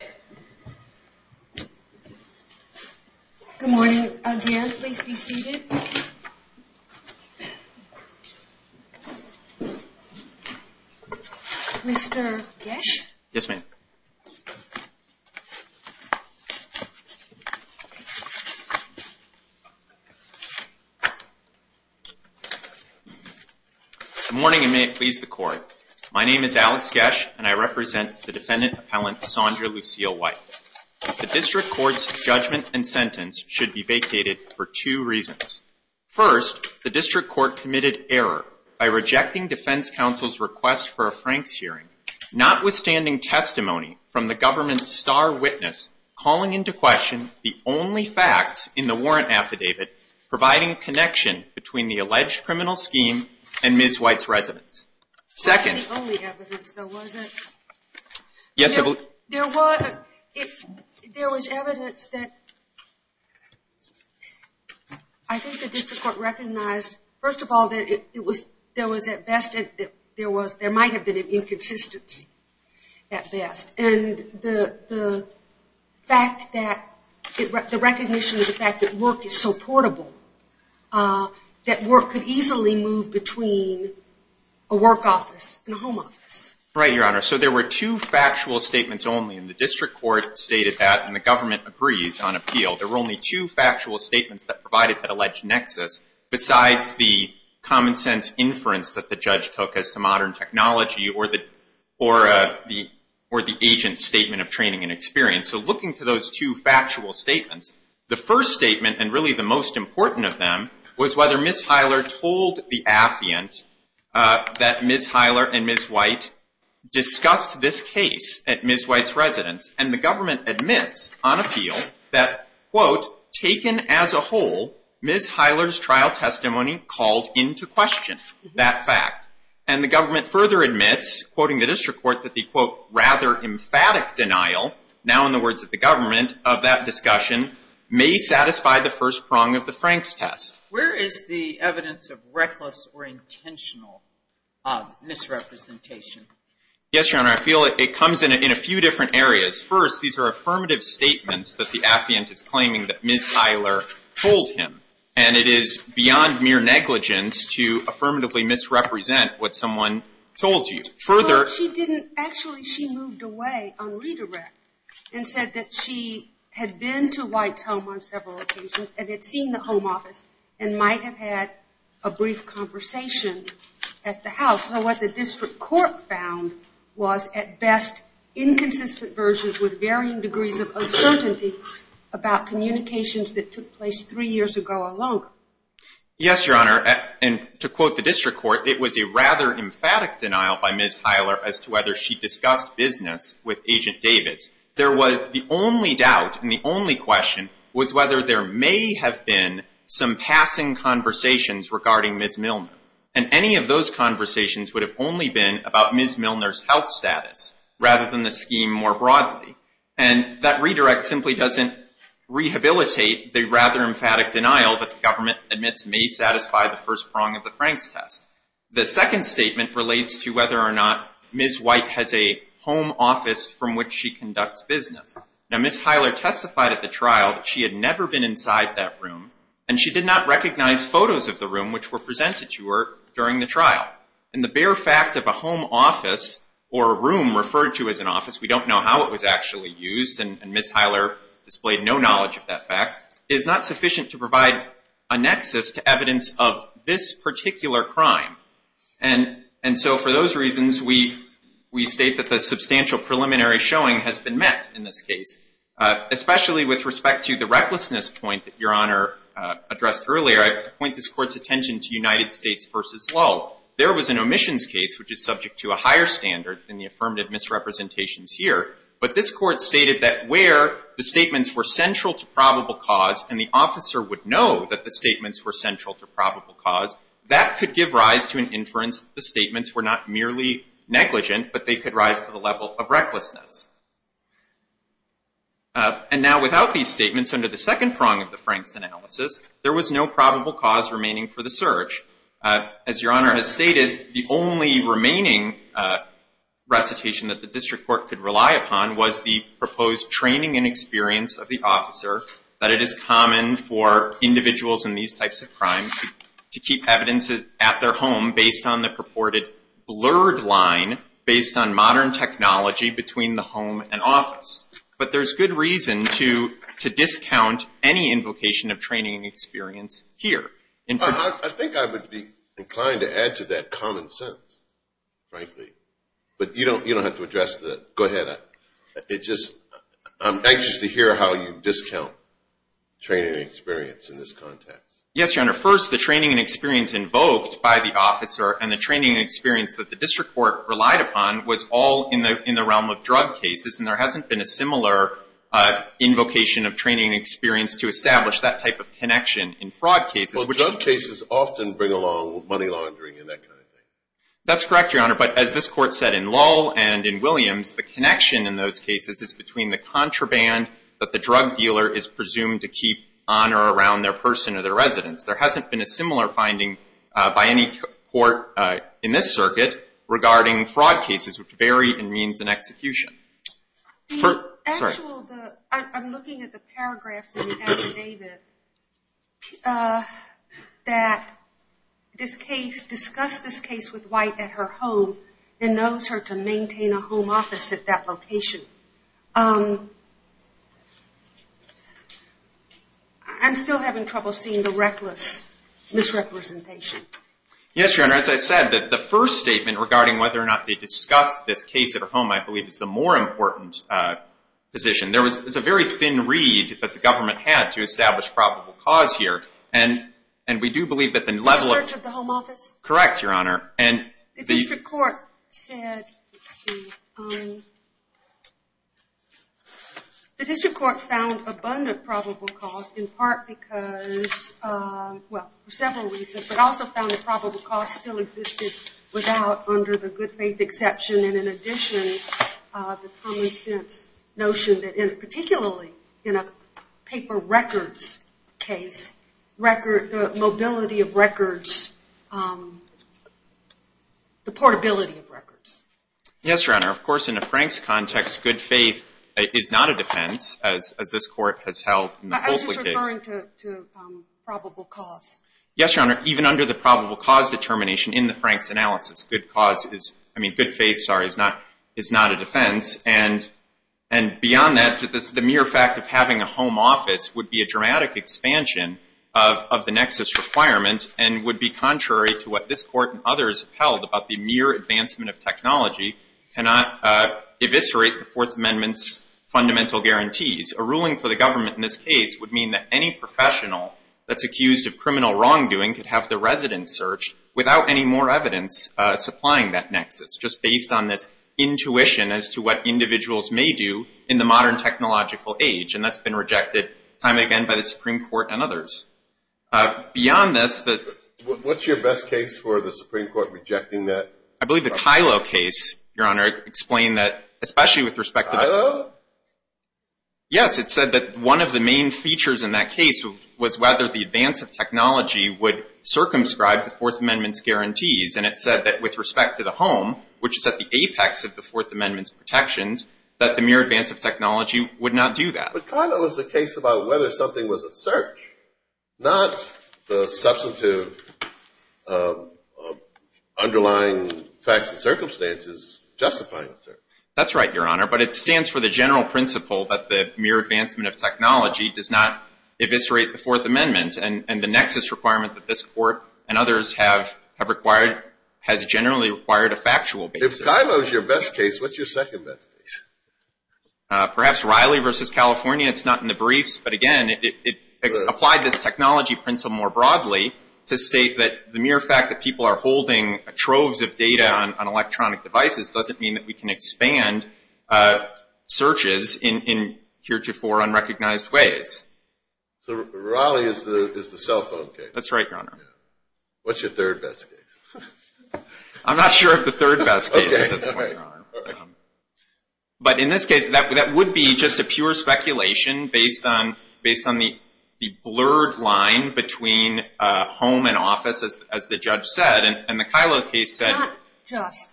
Good morning. Again, please be seated. Mr. Gash? Yes, ma'am. Good morning, and may it please the Court. My name is Alex Gash, and I represent the defendant appellant Saundra Lucille White. The District Court's judgment and sentence should be vacated for two reasons. First, the District Court committed error by rejecting Defense Counsel's request for a Franks hearing, notwithstanding testimony from the government's star witness calling into question the only facts in the warrant affidavit providing connection between the alleged criminal scheme and Ms. White's residence. Second... It wasn't the only evidence, though, was it? Yes, it was. There was evidence that I think the District Court recognized, first of all, that there was, at best, there was, there might have been an inconsistency, at best. And the fact that, the recognition of the fact that work is so portable, that work could easily move between a work office and a home office. Right, Your Honor. So there were two factual statements only, and the District Court stated that, and the government agrees on appeal. There were only two factual statements that provided that alleged nexus, besides the common sense inference that the judge took as to modern technology or the agent's statement of training and experience. So looking to those two factual statements, the first statement, and really the most important of them, was whether Ms. Heiler told the affiant that Ms. Heiler and Ms. White discussed this case at Ms. White's residence, and the government admits on appeal that, quote, taken as a whole, Ms. Heiler's trial testimony called into question that fact. And the government further admits, quoting the District Court, that the, quote, rather emphatic denial, now in the words of the government, of that discussion, may satisfy the first prong of the Franks test. Where is the evidence of reckless or intentional misrepresentation? Yes, Your Honor. I feel it comes in a few different areas. First, these are affirmative statements that the affiant is claiming that Ms. Heiler told him, and it is beyond mere negligence to affirmatively misrepresent what someone told you. Further Well, she didn't. Actually, she moved away on redirect and said that she had been to White's home on several occasions and had seen the home office and might have had a brief conversation at the house. So what the District Court found was, at best, inconsistent versions with varying degrees of uncertainty about communications that took place three years ago alone. Yes, Your Honor. And to quote the District Court, it was a rather emphatic denial by Ms. Heiler as to whether she discussed business with Agent Davids. There was the only doubt and the only question was whether there may have been some passing conversations regarding Ms. Milner. And any of those conversations would have only been about Ms. Milner's health status rather than the scheme more broadly. And that redirect simply doesn't rehabilitate the rather emphatic denial that the government admits may satisfy the first prong of the Franks test. The second statement relates to whether or not Ms. White has a home office from which she conducts business. Now, Ms. Heiler testified at the trial that she had never been inside that room and she did not recognize photos of the room which were presented to her during the trial. And the bare fact of a home office or a room referred to as an office, we don't know how it was actually used and Ms. Heiler displayed no knowledge of that fact, is not sufficient to provide a nexus to evidence of this particular crime. And so for those reasons, we state that the substantial preliminary showing has been met in this case. Especially with respect to the recklessness point that Your Honor addressed earlier, I have to point this Court's attention to United States v. Lull. There was an omissions case which is subject to a higher standard than the affirmative misrepresentations here, but this Court stated that where the statements were central to probable cause and the officer would know that the statements were central to probable cause, that could give rise to an inference that the statements were not merely negligent, but they could rise to the level of recklessness. And now without these statements under the second prong of the Franks analysis, there was no probable cause remaining for the search. As Your Honor has stated, the only remaining recitation that the District Court could rely upon was the proposed training and experience of the officer, that it is common for individuals in these types of crimes to keep evidences at their home based on the purported blurred line based on modern technology between the I think I would be inclined to add to that common sense, frankly. But you don't have to address that. Go ahead. I'm anxious to hear how you discount training and experience in this context. Yes, Your Honor. First, the training and experience invoked by the officer and the training and experience that the District Court relied upon was all in the realm of drug cases, and there hasn't been a similar invocation of training and experience to establish that type of connection in fraud cases, which Well, drug cases often bring along money laundering and that kind of thing. That's correct, Your Honor. But as this Court said in Lull and in Williams, the connection in those cases is between the contraband that the drug dealer is presumed to keep on or around their person or their residence. There hasn't been a similar finding by any court in this circuit regarding fraud cases, which vary in means and execution. I'm looking at the paragraphs in the affidavit that this case, discuss this case with White at her home and knows her to maintain a home office at that location. I'm still having trouble seeing the reckless misrepresentation. Yes, Your Honor. As I said, the first statement regarding whether or not they discussed this case at her home, I believe, is the more important position. It's a very thin reed that the government had to establish probable cause here, and we do believe that the level of In the search of the home office? Correct, Your Honor. The District Court found abundant probable cause in part because, well, several reasons, but also found that probable cause still existed without, under the good faith exception, and in addition, the common sense notion that, particularly in a paper records case, the mobility of records, the portability of records. Yes, Your Honor. Of course, in a Frank's context, good faith is not a defense, as this court has held in the Folsley case. I'm just referring to probable cause. Yes, Your Honor. Even under the probable cause determination in the Frank's analysis, good cause is, I mean, good faith, sorry, is not a defense, and beyond that, the mere fact of having a home office would be a dramatic expansion of the nexus requirement and would be contrary to what this court and others held about the mere advancement of technology cannot eviscerate the Fourth Amendment's fundamental guarantees. A ruling for the government in this case would mean that any professional that's accused of criminal wrongdoing could have their residence searched without any more evidence supplying that nexus, just based on this intuition as to what individuals may do in the modern technological age, and that's been rejected time and again by the Supreme Court and others. Beyond this, the… What's your best case for the Supreme Court rejecting that? I believe the Kyllo case, Your Honor, explained that, especially with respect to… Kyllo? Yes, it said that one of the main features in that case was whether the advance of technology would circumscribe the Fourth Amendment's guarantees, and it said that with respect to the home, which is at the apex of the Fourth Amendment's protections, that the mere advance of technology would not do that. But Kyllo is a case about whether something was a search, not the substantive underlying facts and circumstances justifying the search. That's right, Your Honor, but it stands for the general principle that the mere advancement of technology does not eviscerate the Fourth Amendment, and the nexus requirement that this Court and others have required has generally required a factual basis. If Kyllo is your best case, what's your second best case? Perhaps Riley v. California. It's not in the briefs, but again, it applied this technology principle more broadly to state that the mere fact that people are holding troves of data on electronic devices doesn't mean that we can expand searches in heretofore unrecognized ways. So Riley is the cell phone case. That's right, Your Honor. What's your third best case? I'm not sure of the third best case at this point, Your Honor. But in this case, that would be just a pure speculation based on the blurred line between home and office, as the judge said, and the Kyllo case said… Not just.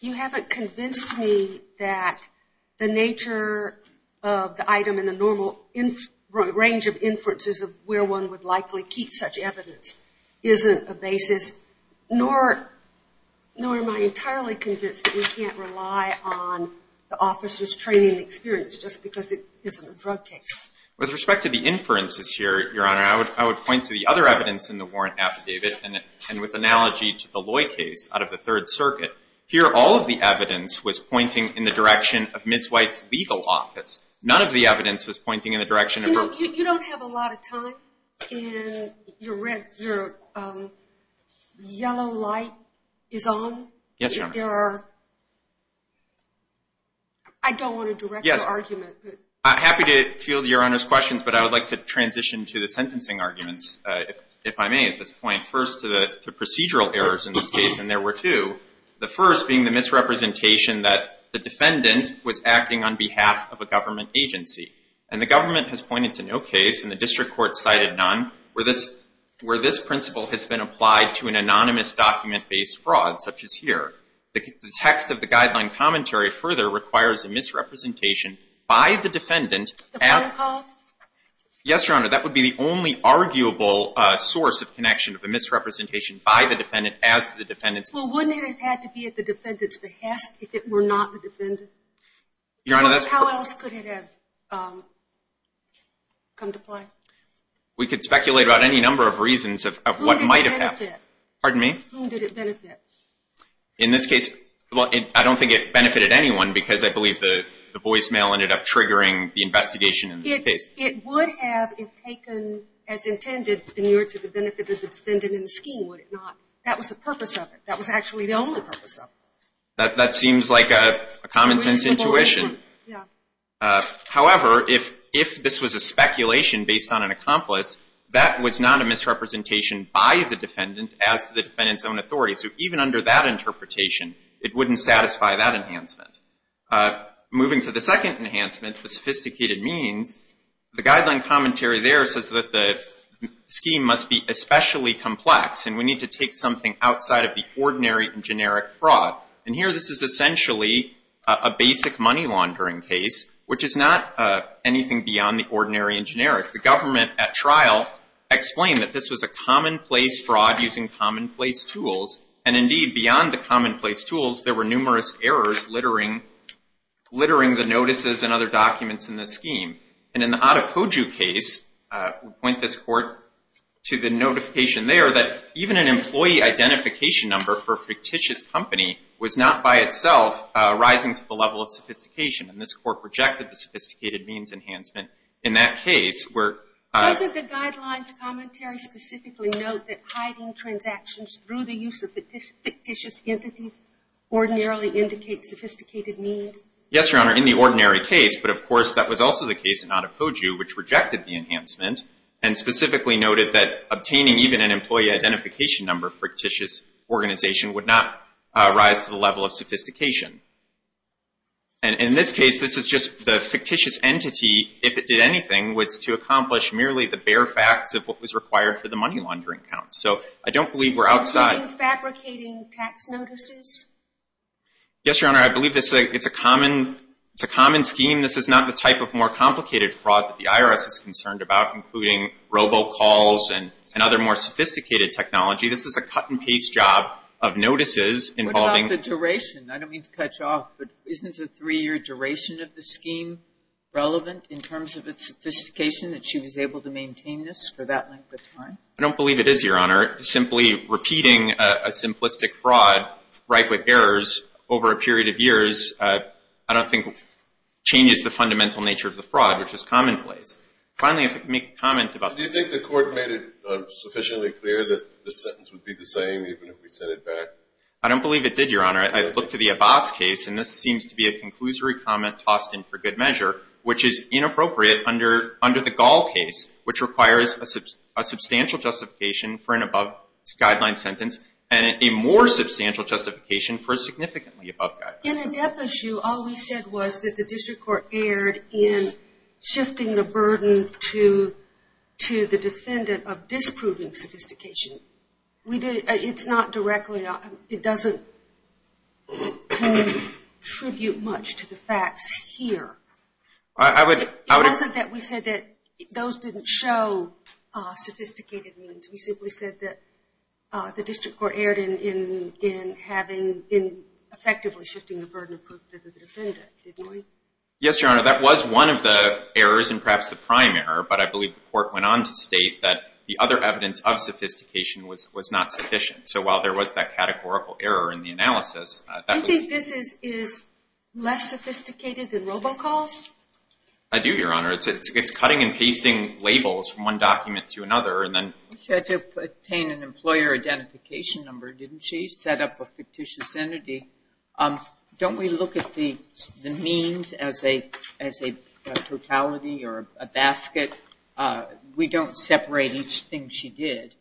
You haven't convinced me that the nature of the item and the normal range of inferences of where one would likely keep such evidence isn't a basis, nor am I entirely convinced that we can't rely on the officer's training and experience just because it isn't a drug case. With respect to the inferences here, Your Honor, I would point to the other evidence in the warrant affidavit, and with analogy to the Loy case out of the Third Circuit. Here all of the evidence was pointing in the direction of Ms. White's legal office. None of the evidence was pointing in the direction of her… You know, you don't have a lot of time, and your yellow light is on. Yes, Your Honor. I don't want to direct an argument, but… I'm happy to field Your Honor's questions, but I would like to transition to the sentencing arguments, if I may, at this point. First to the procedural errors in this case, and there were two, the first being the misrepresentation that the defendant was acting on behalf of a government agency. And the government has pointed to no case, and the district court cited none, where this principle has been applied to an anonymous document-based fraud, such as here. The text of the guideline commentary further requires a misrepresentation by the defendant The phone call? Yes, Your Honor. That would be the only arguable source of connection of a misrepresentation by the defendant as to the defendant's… Well, wouldn't it have had to be at the defendant's behest if it were not the defendant? Your Honor, that's… How else could it have come to play? We could speculate about any number of reasons of what might have happened. Who did it benefit? Pardon me? Who did it benefit? In this case, well, I don't think it benefited anyone, because I believe the voicemail ended up triggering the investigation in this case. It would have, if taken as intended, been newer to the benefit of the defendant in the scheme, would it not? That was the purpose of it. That was actually the only purpose of it. That seems like a common-sense intuition. Yeah. However, if this was a speculation based on an accomplice, that was not a misrepresentation by the defendant as to the defendant's own authority. So even under that interpretation, it wouldn't satisfy that enhancement. Moving to the second enhancement, the sophisticated means, the guideline commentary there says that the scheme must be especially complex, and we need to take something outside of the ordinary and generic fraud. And here, this is essentially a basic money laundering case, which is not anything beyond the ordinary and generic. The government at trial explained that this was a commonplace fraud using commonplace tools. And indeed, beyond the commonplace tools, there were numerous errors littering the notices and other documents in the scheme. And in the Adepoju case, we point this court to the notification there that even an employee identification number for a fictitious company was not by itself rising to the level of sophistication. And this court rejected the sophisticated means enhancement in that case where— Doesn't the guidelines commentary specifically note that hiding transactions through the use of fictitious entities ordinarily indicates sophisticated means? Yes, Your Honor, in the ordinary case. But of course, that was also the case in Adepoju, which rejected the enhancement and specifically noted that obtaining even an employee identification number for a fictitious organization would not rise to the level of sophistication. And in this case, this is just the fictitious entity, if it did anything, was to accomplish merely the bare facts of what was required for the money laundering count. So I don't believe we're outside— Are you fabricating tax notices? Yes, Your Honor, I believe it's a common scheme. This is not the type of more complicated fraud that the IRS is concerned about, including robocalls and other more sophisticated technology. This is a cut-and-paste job of notices involving— What about the duration? I don't mean to cut you off, but isn't the three-year duration of the scheme relevant in terms of its sophistication that she was able to maintain this for that length of time? I don't believe it is, Your Honor. Simply repeating a simplistic fraud, right with errors, over a period of years, I don't think changes the fundamental nature of the fraud, which is commonplace. Finally, if I could make a comment about— Do you think the Court made it sufficiently clear that the sentence would be the same even if we sent it back? I don't believe it did, Your Honor. I looked at the Abbas case, and this seems to be a conclusory comment tossed in for good measure, which is inappropriate under the Gall case, which requires a substantial justification for an above-guideline sentence and a more substantial justification for a significantly above-guideline sentence. In the death issue, all we said was that the District Court erred in shifting the burden to the defendant of disproving sophistication. It's not directly—it doesn't contribute much to the facts here. I would— It wasn't that we said that those didn't show sophisticated means. We simply said that the District Court erred in having—in effectively shifting the burden of proof to the defendant, didn't we? Yes, Your Honor. That was one of the errors, and perhaps the prime error, but I believe the Court went on to state that the other evidence of sophistication was not sufficient. So while there was that categorical error in the analysis, that was— Do you think this is less sophisticated than robocalls? I do, Your Honor. It's cutting and pasting labels from one document to another, and then— She had to obtain an employer identification number, didn't she? Set up a fictitious entity. Don't we look at the means as a totality or a basket? We don't separate each thing she did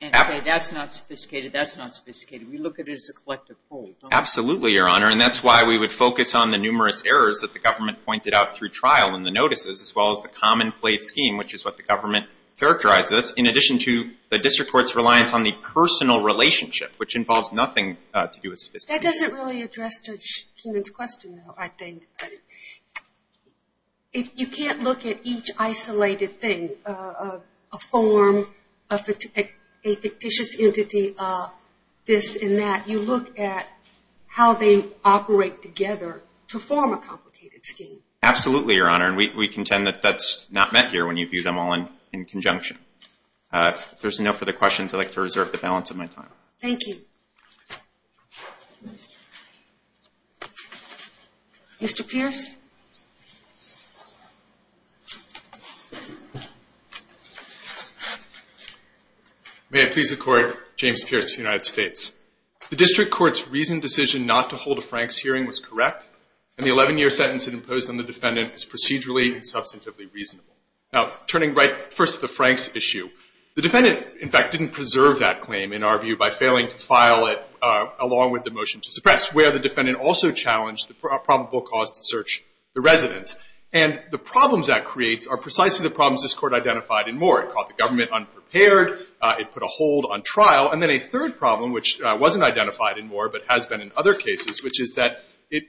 and say, that's not sophisticated, that's not sophisticated. We look at it as a collective whole. Absolutely, Your Honor. And that's why we would focus on the numerous errors that the government pointed out through trial in the notices, as well as the commonplace scheme, which is what the government characterized as, in addition to the District Court's reliance on the personal relationship, which involves nothing to do with sophistication. That doesn't really address Judge Keenan's question, though, I think. If you can't look at each isolated thing, a form, a fictitious entity, this and that, you look at how they operate together to form a complicated scheme. Absolutely, Your Honor. And we contend that that's not meant here when you view them all in conjunction. If there's enough of the questions, I'd like to reserve the balance of my time. Thank you. Mr. Pearce? May it please the Court, James Pearce of the United States. The District Court's recent decision not to hold a Franks hearing was correct, and the 11-year sentence it imposed on the defendant is procedurally and substantively reasonable. Now, turning right first to the Franks issue, the defendant, in fact, didn't preserve that claim, in our view, by failing to file a claim against the defendant. The defendant failed to file it, along with the motion to suppress, where the defendant also challenged the probable cause to search the residence. And the problems that creates are precisely the problems this Court identified in Moore. It caught the government unprepared. It put a hold on trial. And then a third problem, which wasn't identified in Moore, but has been in other cases, which is that it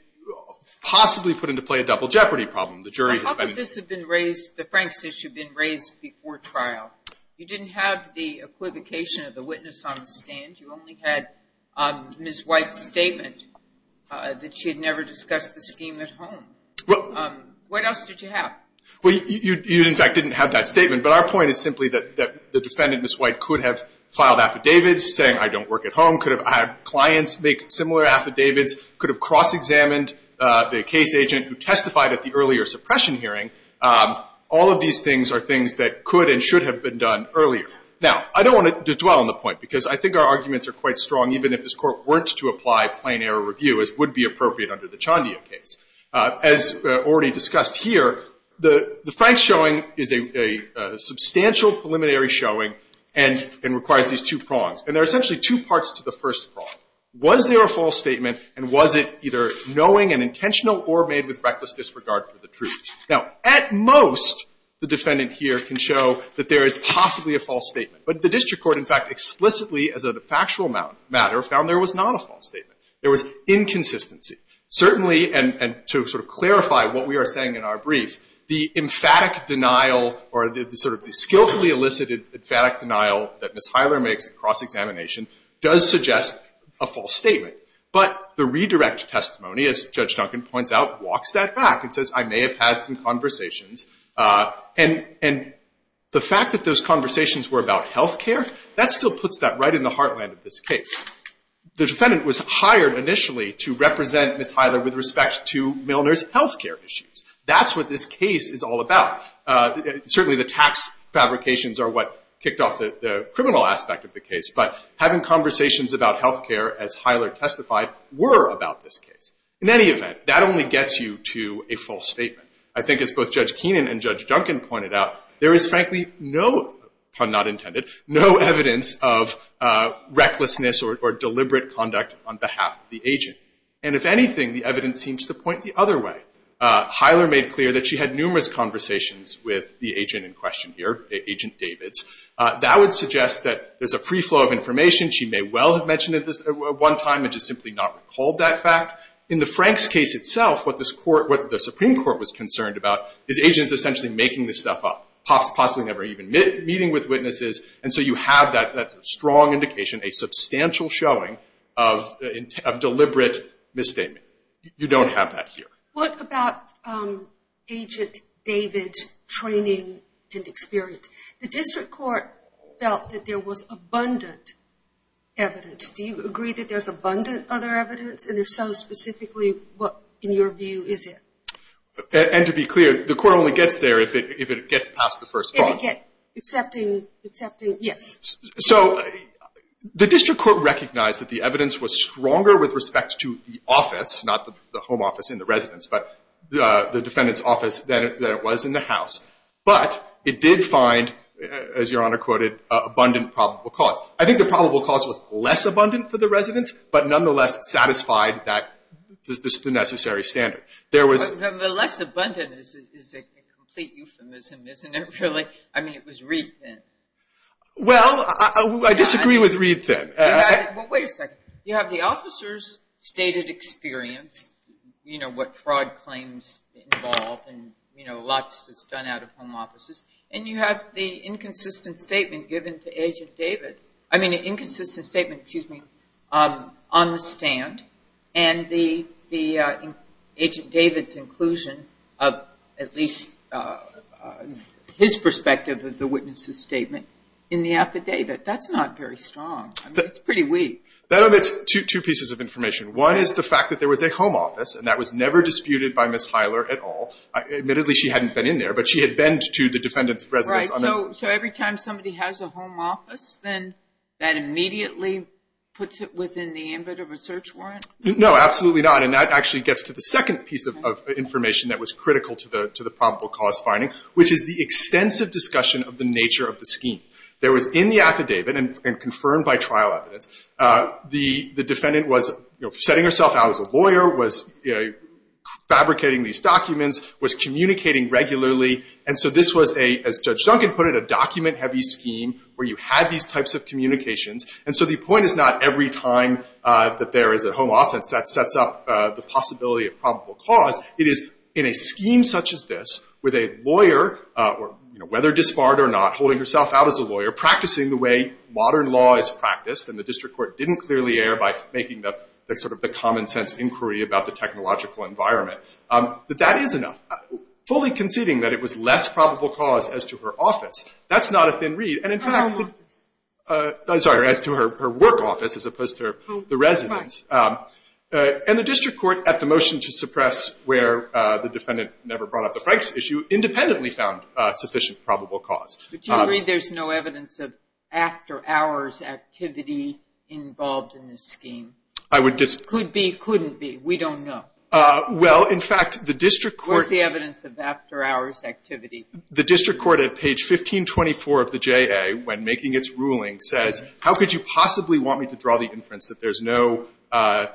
possibly put into play a double jeopardy problem. The jury has been in dispute. How could this have been raised, the Franks issue, been raised before trial? You didn't have the equivocation of the witness on the stand. You only had Ms. White's statement that she had never discussed the scheme at home. What else did you have? Well, you, in fact, didn't have that statement. But our point is simply that the defendant, Ms. White, could have filed affidavits saying, I don't work at home, could have had clients make similar affidavits, could have cross-examined the case agent who testified at the earlier suppression hearing. All of these things are things that could and should have been done earlier. Now, I don't want to dwell on the point, because I think our arguments are quite strong even if this Court weren't to apply plain error review as would be appropriate under the Chandia case. As already discussed here, the Franks showing is a substantial preliminary showing and requires these two prongs. And there are essentially two parts to the first prong. Was there a false statement? And was it either knowing and intentional or made with reckless disregard for the truth? Now, at most, the defendant here can show that there is possibly a false statement. But the district court, in fact, explicitly as a factual matter, found there was not a false statement. There was inconsistency. Certainly, and to sort of clarify what we are saying in our brief, the emphatic denial or the sort of skillfully elicited emphatic denial that Ms. Heiler makes at cross-examination does suggest a false statement. But the redirect testimony, as Judge Duncan points out, walks that back and says, I may have had some conversations. And the fact that those conversations were about health care, that still puts that right in the heartland of this case. The defendant was hired initially to represent Ms. Heiler with respect to Milner's health care issues. That's what this case is all about. Certainly, the tax fabrications are what kicked off the criminal aspect of the case, but having conversations about health care, as Heiler testified, were about this case. In any event, that only gets you to a false statement. I think as both Judge Keenan and Judge Duncan pointed out, there is frankly no, pun not intended, no evidence of recklessness or deliberate conduct on behalf of the agent. And if anything, the evidence seems to point the other way. Heiler made clear that she had numerous conversations with the agent in question here, Agent Davids. That would suggest that there's a free flow of information. She may well have mentioned this at one time and just simply not recalled that fact. In the Franks case itself, what the Supreme Court was concerned about is agents essentially making this stuff up, possibly never even meeting with witnesses. And so you have that strong indication, a substantial showing of deliberate misstatement. You don't have that here. What about Agent Davids' training and experience? The district court felt that there was abundant evidence. Do you agree that there's abundant other evidence? And if so, specifically what, in your view, is it? And to be clear, the court only gets there if it gets past the first point. So the district court recognized that the evidence was stronger with respect to the office, not the home office in the residence, but the defendant's office than it was in the house. But it did find, as Your Honor quoted, abundant probable cause. I think the probable cause was less abundant for the residence, but nonetheless satisfied that necessary standard. Less abundant is a complete euphemism, isn't it really? I mean, it was read thin. Well, I disagree with read thin. Wait a second. You have the officer's stated experience, you know, what fraud claims involved and, you know, lots that's done out of home offices, and you have the inconsistent statement given to Agent Davids. I mean, an inconsistent statement, excuse me, on the stand, and the Agent Davids' inclusion of at least his perspective of the witness's statement in the affidavit. That's not very strong. I mean, it's pretty weak. That omits two pieces of information. One is the fact that there was a home office, and that was never disputed by Ms. Heiler at all. Admittedly, she hadn't been in there, but she had been to the defendant's residence. Right. So every time somebody has a home office, then that immediately puts it within the ambit of a search warrant? No, absolutely not. And that actually gets to the second piece of information that was critical to the probable cause finding, which is the extensive discussion of the nature of the scheme. There was in the affidavit, and confirmed by trial evidence, the defendant was setting herself out as a lawyer, was fabricating these documents, was communicating regularly, and so this was a, as Judge Duncan put it, a document-heavy scheme where you had these types of communications, and so the every time that there is a home office, that sets up the possibility of probable cause. It is in a scheme such as this, with a lawyer, whether disbarred or not, holding herself out as a lawyer, practicing the way modern law is practiced, and the district court didn't clearly err by making the common sense inquiry about the technological environment, that that is enough. Fully conceding that it was less probable cause as to her office, that's not a thin read. And in fact, as to her work office, as opposed to the residence, and the district court, at the motion to suppress where the defendant never brought up the Franks issue, independently found sufficient probable cause. But you agree there's no evidence of after-hours activity involved in this scheme? I would disagree. Could be? Couldn't be? We don't know. Well, in fact, the district court What's the evidence of after-hours activity? The district court at page 1524 of the J.A., when making its ruling, says, how could you possibly want me to draw the inference that there's no Right,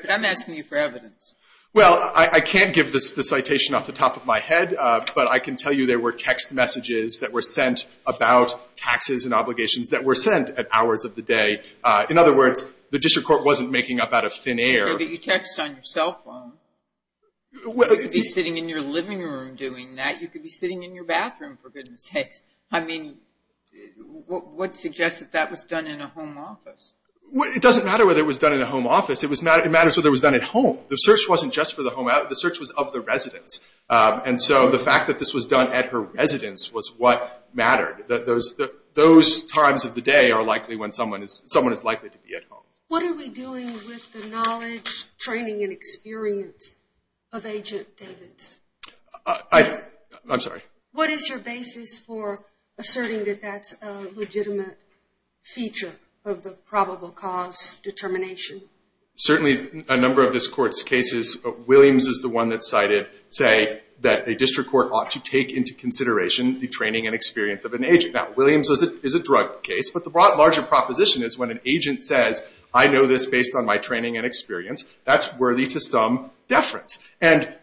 but I'm asking you for evidence. Well, I can't give the citation off the top of my head, but I can tell you there were text messages that were sent about taxes and obligations that were sent at hours of the day. In other words, the district court wasn't making up out of thin air. You text on your cell phone. You could be sitting in your living room doing that. You could be sitting in your bathroom, for goodness sakes. I mean, what suggests that that was done in a home office? It doesn't matter whether it was done in a home office. It matters whether it was done at home. The search wasn't just for the home address. The search was of the residence. And so the fact that this was done at her residence was what mattered. Those times of the day are likely when someone is likely to be at home. What are we doing with the knowledge, training, and experience of Agent Davis? I'm sorry? What is your basis for asserting that that's a legitimate feature of the probable cause determination? Certainly, a number of this court's cases, Williams is the one that cited, say, that a district court ought to take into consideration the training and experience of an agent. Now, Williams is a drug case, but the broader proposition is when an agent says, I know this based on my training and experience, that's worthy to some deference. And,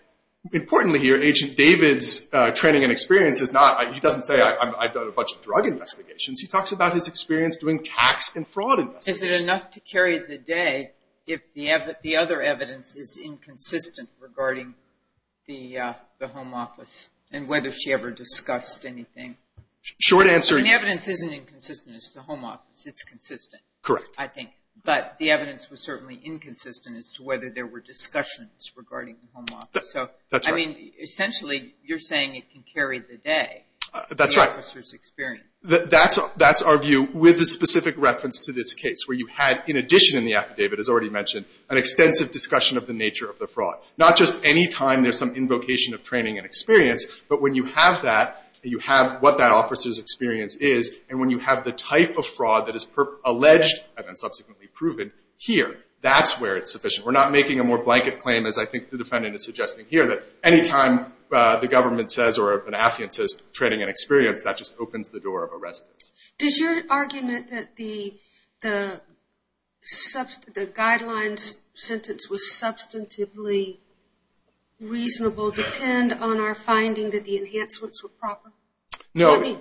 importantly here, Agent Davis' training and experience is not, he doesn't say, I've done a bunch of drug investigations. He talks about his experience doing tax and fraud investigations. Is it enough to carry the day if the other evidence is inconsistent regarding the home office and whether she ever discussed anything? Short answer is... The evidence isn't inconsistent as to home office. It's consistent, I think. Correct. But the evidence was certainly inconsistent as to whether there were discussions regarding the home office. Essentially, you're saying it can carry the day. That's right. That's our view with a specific reference to this case where you had, in addition in the affidavit, as already mentioned, an extensive discussion of the nature of the fraud. Not just any time there's some invocation of training and experience, but when you have that, you have what that officer's experience is and when you have the type of fraud that is alleged, and then subsequently proven, here. That's where it's sufficient. We're not making a more blanket claim, as I think the defendant is suggesting here, that any time the government says or an affidavit says training and experience, that just opens the door of arrest. Does your argument that the guidelines sentence was substantively reasonable depend on our finding that the enhancements were proper? No.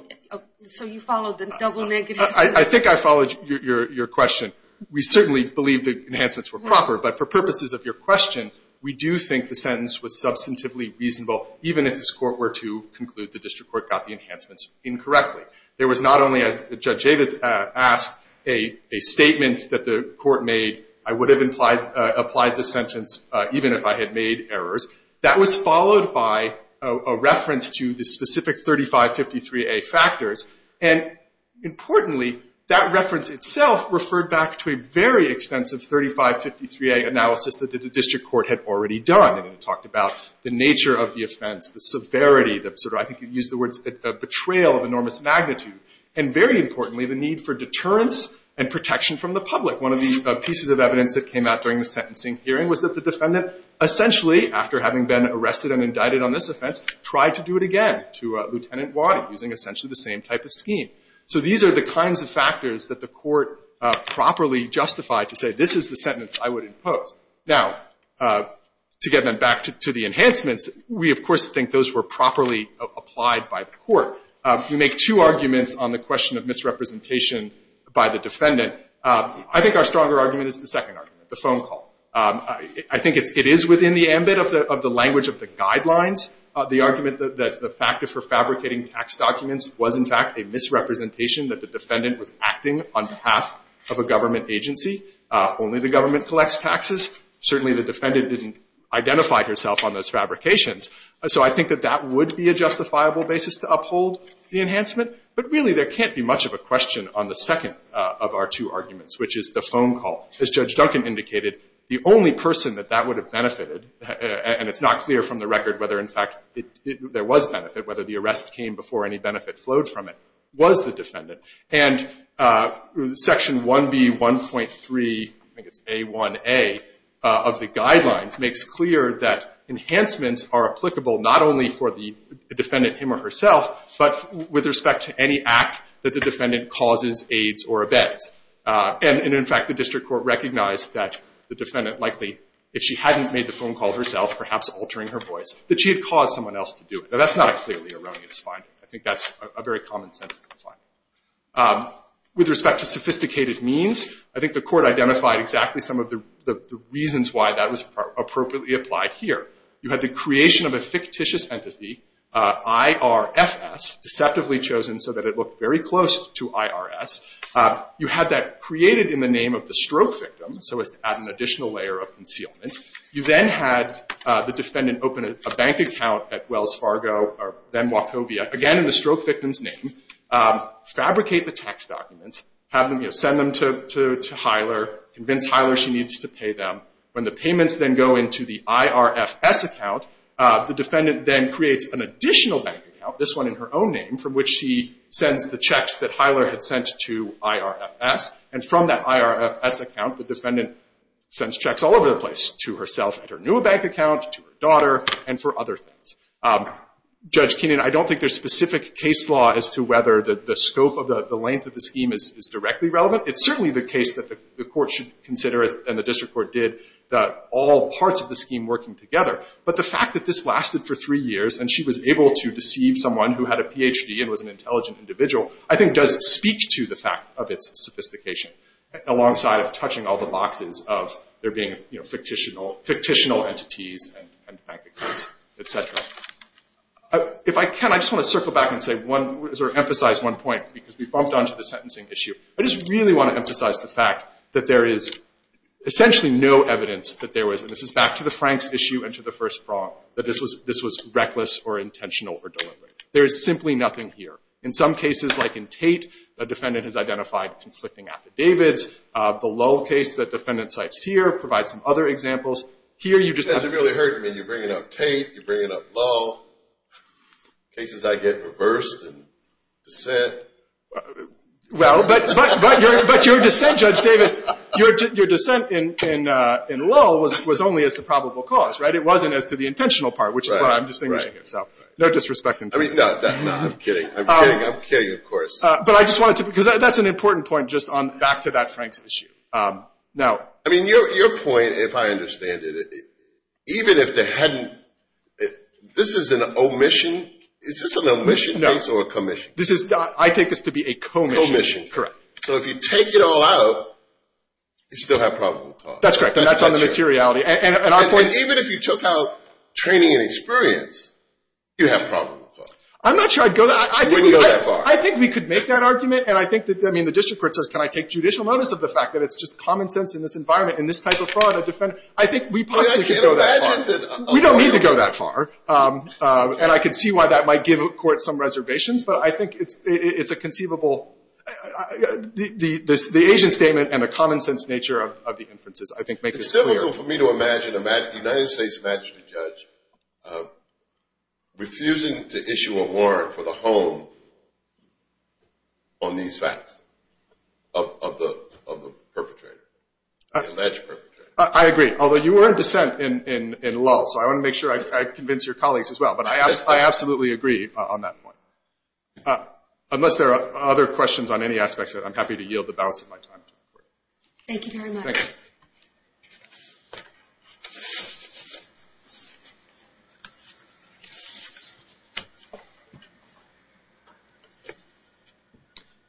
So you followed the double negative sentence? I think I followed your question. We certainly believe the enhancements were proper, but for purposes of your question, we do think the sentence was substantively reasonable even if this court were to conclude the district court got the enhancements incorrectly. There was not only, as Judge Javits asked, a statement that the court made, I would have applied the sentence even if I had made errors. That was followed by a reference to the specific 3553A factors, and importantly, that reference itself referred back to a very extensive 3553A analysis that the district court had already done. It talked about the nature of the offense, the severity, I think you used the words, a betrayal of enormous magnitude, and very importantly, the need for deterrence and protection from the public. One of the pieces of evidence that came out during the sentencing hearing was that the defendant essentially, after having been arrested and indicted on this offense, tried to do it again to Lieutenant Waddy, using essentially the same type of scheme. So these are the kinds of factors that the court properly justified to say this is the sentence I would impose. Now, to get back to the enhancements, we of course think those were properly applied by the court. We make two arguments on the question of misrepresentation by the defendant. I think our stronger argument is the second argument, the phone call. I think it is within the ambit of the language of the guidelines, the argument that the factor for fabricating tax documents was in fact a misrepresentation that the defendant was acting on behalf of a government agency. Only the government collects taxes. Certainly the defendant didn't identify herself on those fabrications. So I think that that would be a justifiable basis to uphold the enhancement. But really, there can't be much of a question on the second of our two arguments, which is the phone call. As Judge Duncan indicated, the only person that that would have benefited, and it's not clear from the record whether in fact there was benefit, whether the arrest came before any benefit flowed from it, was the defendant. And section 1B1.3 I think it's A1A of the guidelines makes clear that enhancements are applicable not only for the defendant him or herself, but with respect to any act that the defendant causes aids or abets. And in fact, the district court recognized that the defendant likely, if she hadn't made the phone call herself, perhaps altering her voice, that she had caused someone else to do it. Now that's not a clearly erroneous finding. I think that's a very common sense finding. With respect to sophisticated means, I think the court identified exactly some of the reasons why that was appropriately applied here. You had the creation of a fictitious entity, IRFS, deceptively chosen so that it looked very close to IRS. You had that created in the name of the stroke victim, so as to add an additional layer of concealment. You then had the defendant open a bank account at Wells Fargo or then Wachovia, again in the stroke victim's name, fabricate the tax documents, send them to Hiler, convince Hiler she needs to pay them. When the payments then go into the IRFS account, the defendant then creates an additional bank account, this one in her own name, from which she sends the checks that Hiler had sent to IRFS, and from that IRFS account, the defendant sends checks all over the place to herself, to her new bank account, to her daughter, and for other things. Judge Keenan, I don't think there's specific case law as to whether the scope of the length of the scheme is directly relevant. It's certainly the case that the court should consider, and the district court did, that all parts of the scheme working together, but the fact that this lasted for three years and she was able to deceive someone who had a PhD and was an intelligent individual, I think does speak to the fact of its sophistication, alongside of touching all the boxes of there being fictitional entities and bank accounts, etc. If I can, I just want to circle back and emphasize one point, because we bumped onto the sentencing issue. I just really want to emphasize the fact that there is essentially no evidence that there was, and this is back to the Franks issue and to the first prong, that this was reckless or intentional or deliberate. There is simply nothing here. In some cases like in Tate, the defendant has identified conflicting affidavits. The Lull case that the defendant cites here provides some other examples. That doesn't really hurt me. You're bringing up Tate, you're bringing up Lull. Cases I get reversed in dissent. Well, but your dissent, Judge Davis, your dissent in Lull was only as to probable cause, right? It wasn't as to the intentional part, which is what I'm distinguishing here. So, no disrespect. No, I'm kidding. I'm kidding, of course. That's an important point, just back to that Franks issue. Your point, if I understand it, even if there hadn't this is an omission, is this an omission case or a commission case? I take this to be a commission case. So, if you take it all out, you still have probable cause. That's correct. Even if you took out training and experience, you'd have probable cause. I'm not sure I'd go that far. I think we could make that argument, and I think the district court says, can I take judicial notice of the fact that it's just common sense in this environment, in this type of fraud, I think we possibly could go that far. We don't need to go that far. And I can see why that might give a court some reservations, but I think it's a conceivable the Asian statement and the common sense nature of the inferences I think make this clear. It's difficult for me to imagine, the United States magistrate judge refusing to issue a warrant for the home on these facts of the perpetrator, the alleged perpetrator. I agree, although you were in dissent in lull, so I want to make sure I convince your colleagues as well, but I absolutely agree on that point. Unless there are other questions on any aspects of it, I'm happy to yield the balance of my time to the court. Thank you very much. Thank you.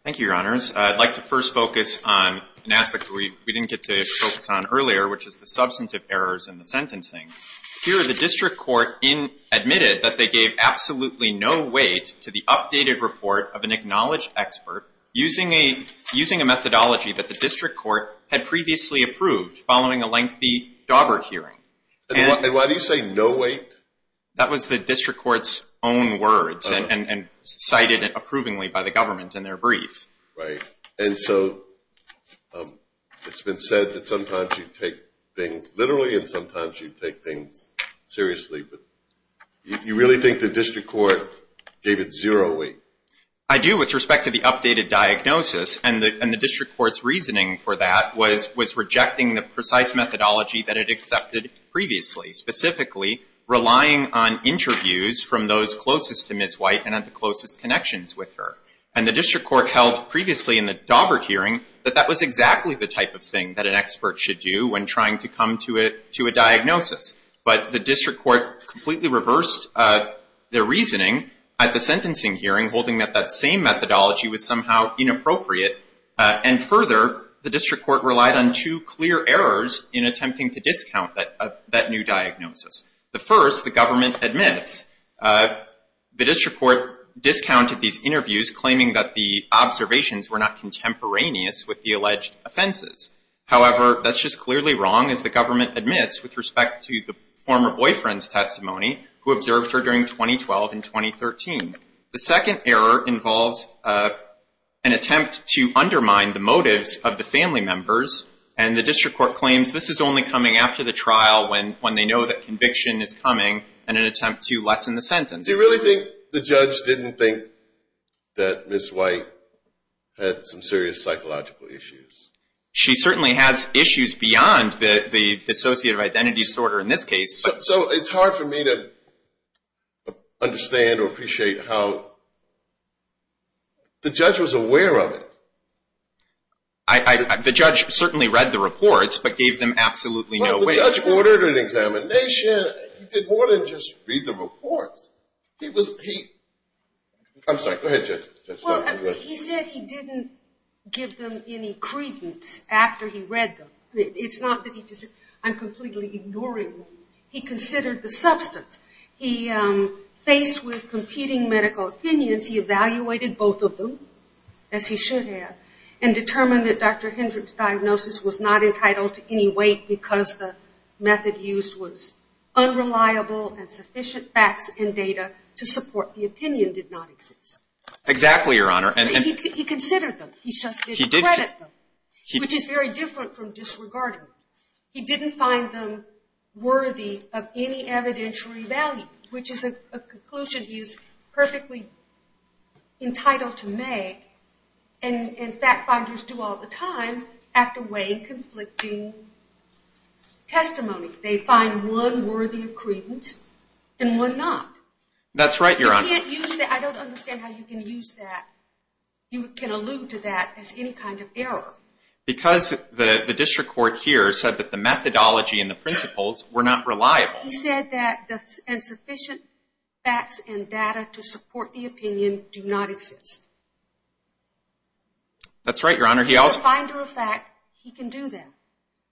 Thank you, Your Honors. I'd like to first focus on an aspect we didn't get to focus on earlier, which is the substantive errors in the sentencing. Here, the district court admitted that they gave absolutely no weight to the updated report of an acknowledged expert using a methodology that the district court had previously approved following a lengthy Dauber hearing. And why do you say no weight? That was the district court's own words and cited approvingly by the government in their brief. And so it's been said that sometimes you take things literally and sometimes you take things seriously, but you really think the district court gave it zero weight? I do, with respect to the updated diagnosis, and the district court's reasoning for that was rejecting the precise methodology that it accepted previously, specifically relying on interviews from those closest to Ms. White and had the closest connections with her. And the district court held previously in the Dauber hearing that that was exactly the type of thing that an expert should do when trying to come to a diagnosis. But the district court completely reversed their reasoning at the sentencing hearing holding that that same methodology was somehow inappropriate, and further the district court relied on two clear errors in attempting to discount that new diagnosis. The first, the government admits the district court discounted these interviews claiming that the observations were not contemporaneous with the alleged offenses. However, that's just clearly wrong as the government admits with respect to the former boyfriend's testimony who observed her during 2012 and 2013. The second error involves an attempt to undermine the motives of the family members, and the district court claims this is only coming after the trial when they know that conviction is coming in an attempt to lessen the sentence. Do you really think the judge didn't think that Ms. White had some serious psychological issues? She certainly has issues beyond the dissociative identity disorder in this case. So it's hard for me to understand or appreciate how the judge was aware of it. The judge certainly read the reports, but gave them absolutely no weight. The judge ordered an examination he did more than just read the reports. I'm sorry, go ahead Judge. He said he didn't give them any credence after he read them. It's not that he, I'm completely ignoring him. He considered the substance. He faced with competing medical opinions. He evaluated both of them as he should have and determined that Dr. Hendrick's diagnosis was not entitled to any weight because the method used was unreliable and sufficient facts and data to support the opinion did not exist. Exactly, Your Honor. He considered them. He just didn't credit them. Which is very different from disregarding them. He didn't find them worthy of any evidentiary value, which is a conclusion he is perfectly entitled to make and fact finders do all the time after weighing conflicting testimony. They find one worthy of credence and one not. That's right, Your Honor. I don't understand how you can use that. You can allude to that as any kind of error. Because the district court here said that the methodology and the principles were not reliable. He said that insufficient facts and data to support the opinion do not exist. That's right, Your Honor. As a finder of fact, he can do that.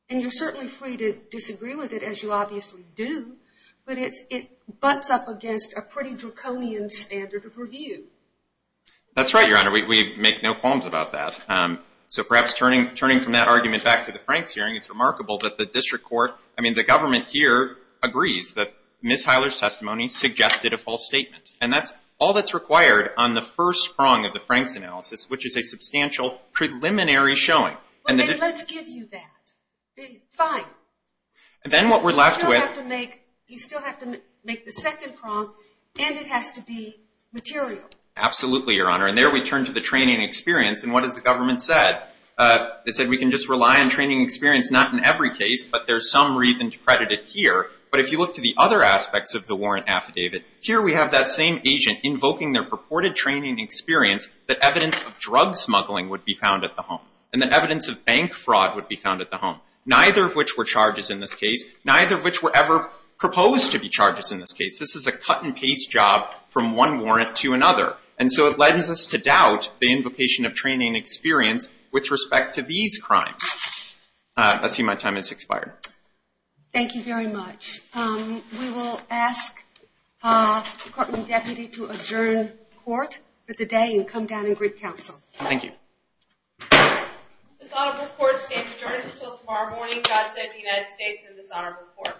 And you're certainly free to disagree with it, as you obviously do. But it butts up against a pretty draconian standard of review. That's right, Your Honor. We make no qualms about that. So perhaps turning from that argument back to the Franks hearing, it's remarkable that the district court, I mean, the government here agrees that Ms. Heiler's testimony suggested a false statement. And that's all that's required on the first prong of the Franks analysis, which is a substantial preliminary showing. Let's give you that. Fine. Then what we're left with... You still have to make the second prong and it has to be material. Absolutely, Your Honor. And there we turn to the training experience. And what has the government said? They said we can just look at the Warren case, but there's some reason to credit it here. But if you look to the other aspects of the Warren affidavit, here we have that same agent invoking their purported training experience that evidence of drug smuggling would be found at the home. And that evidence of bank fraud would be found at the home. Neither of which were charges in this case. Neither of which were ever proposed to be charges in this case. This is a cut-and-paste job from one warrant to another. And so it lends us to doubt the invocation of training experience with respect to these crimes. I see my time has expired. Thank you very much. We will ask the Courtroom Deputy to adjourn court for the day and come down and greet counsel. Thank you. This honorable court stands adjourned until tomorrow morning. God save the United States and this honorable court.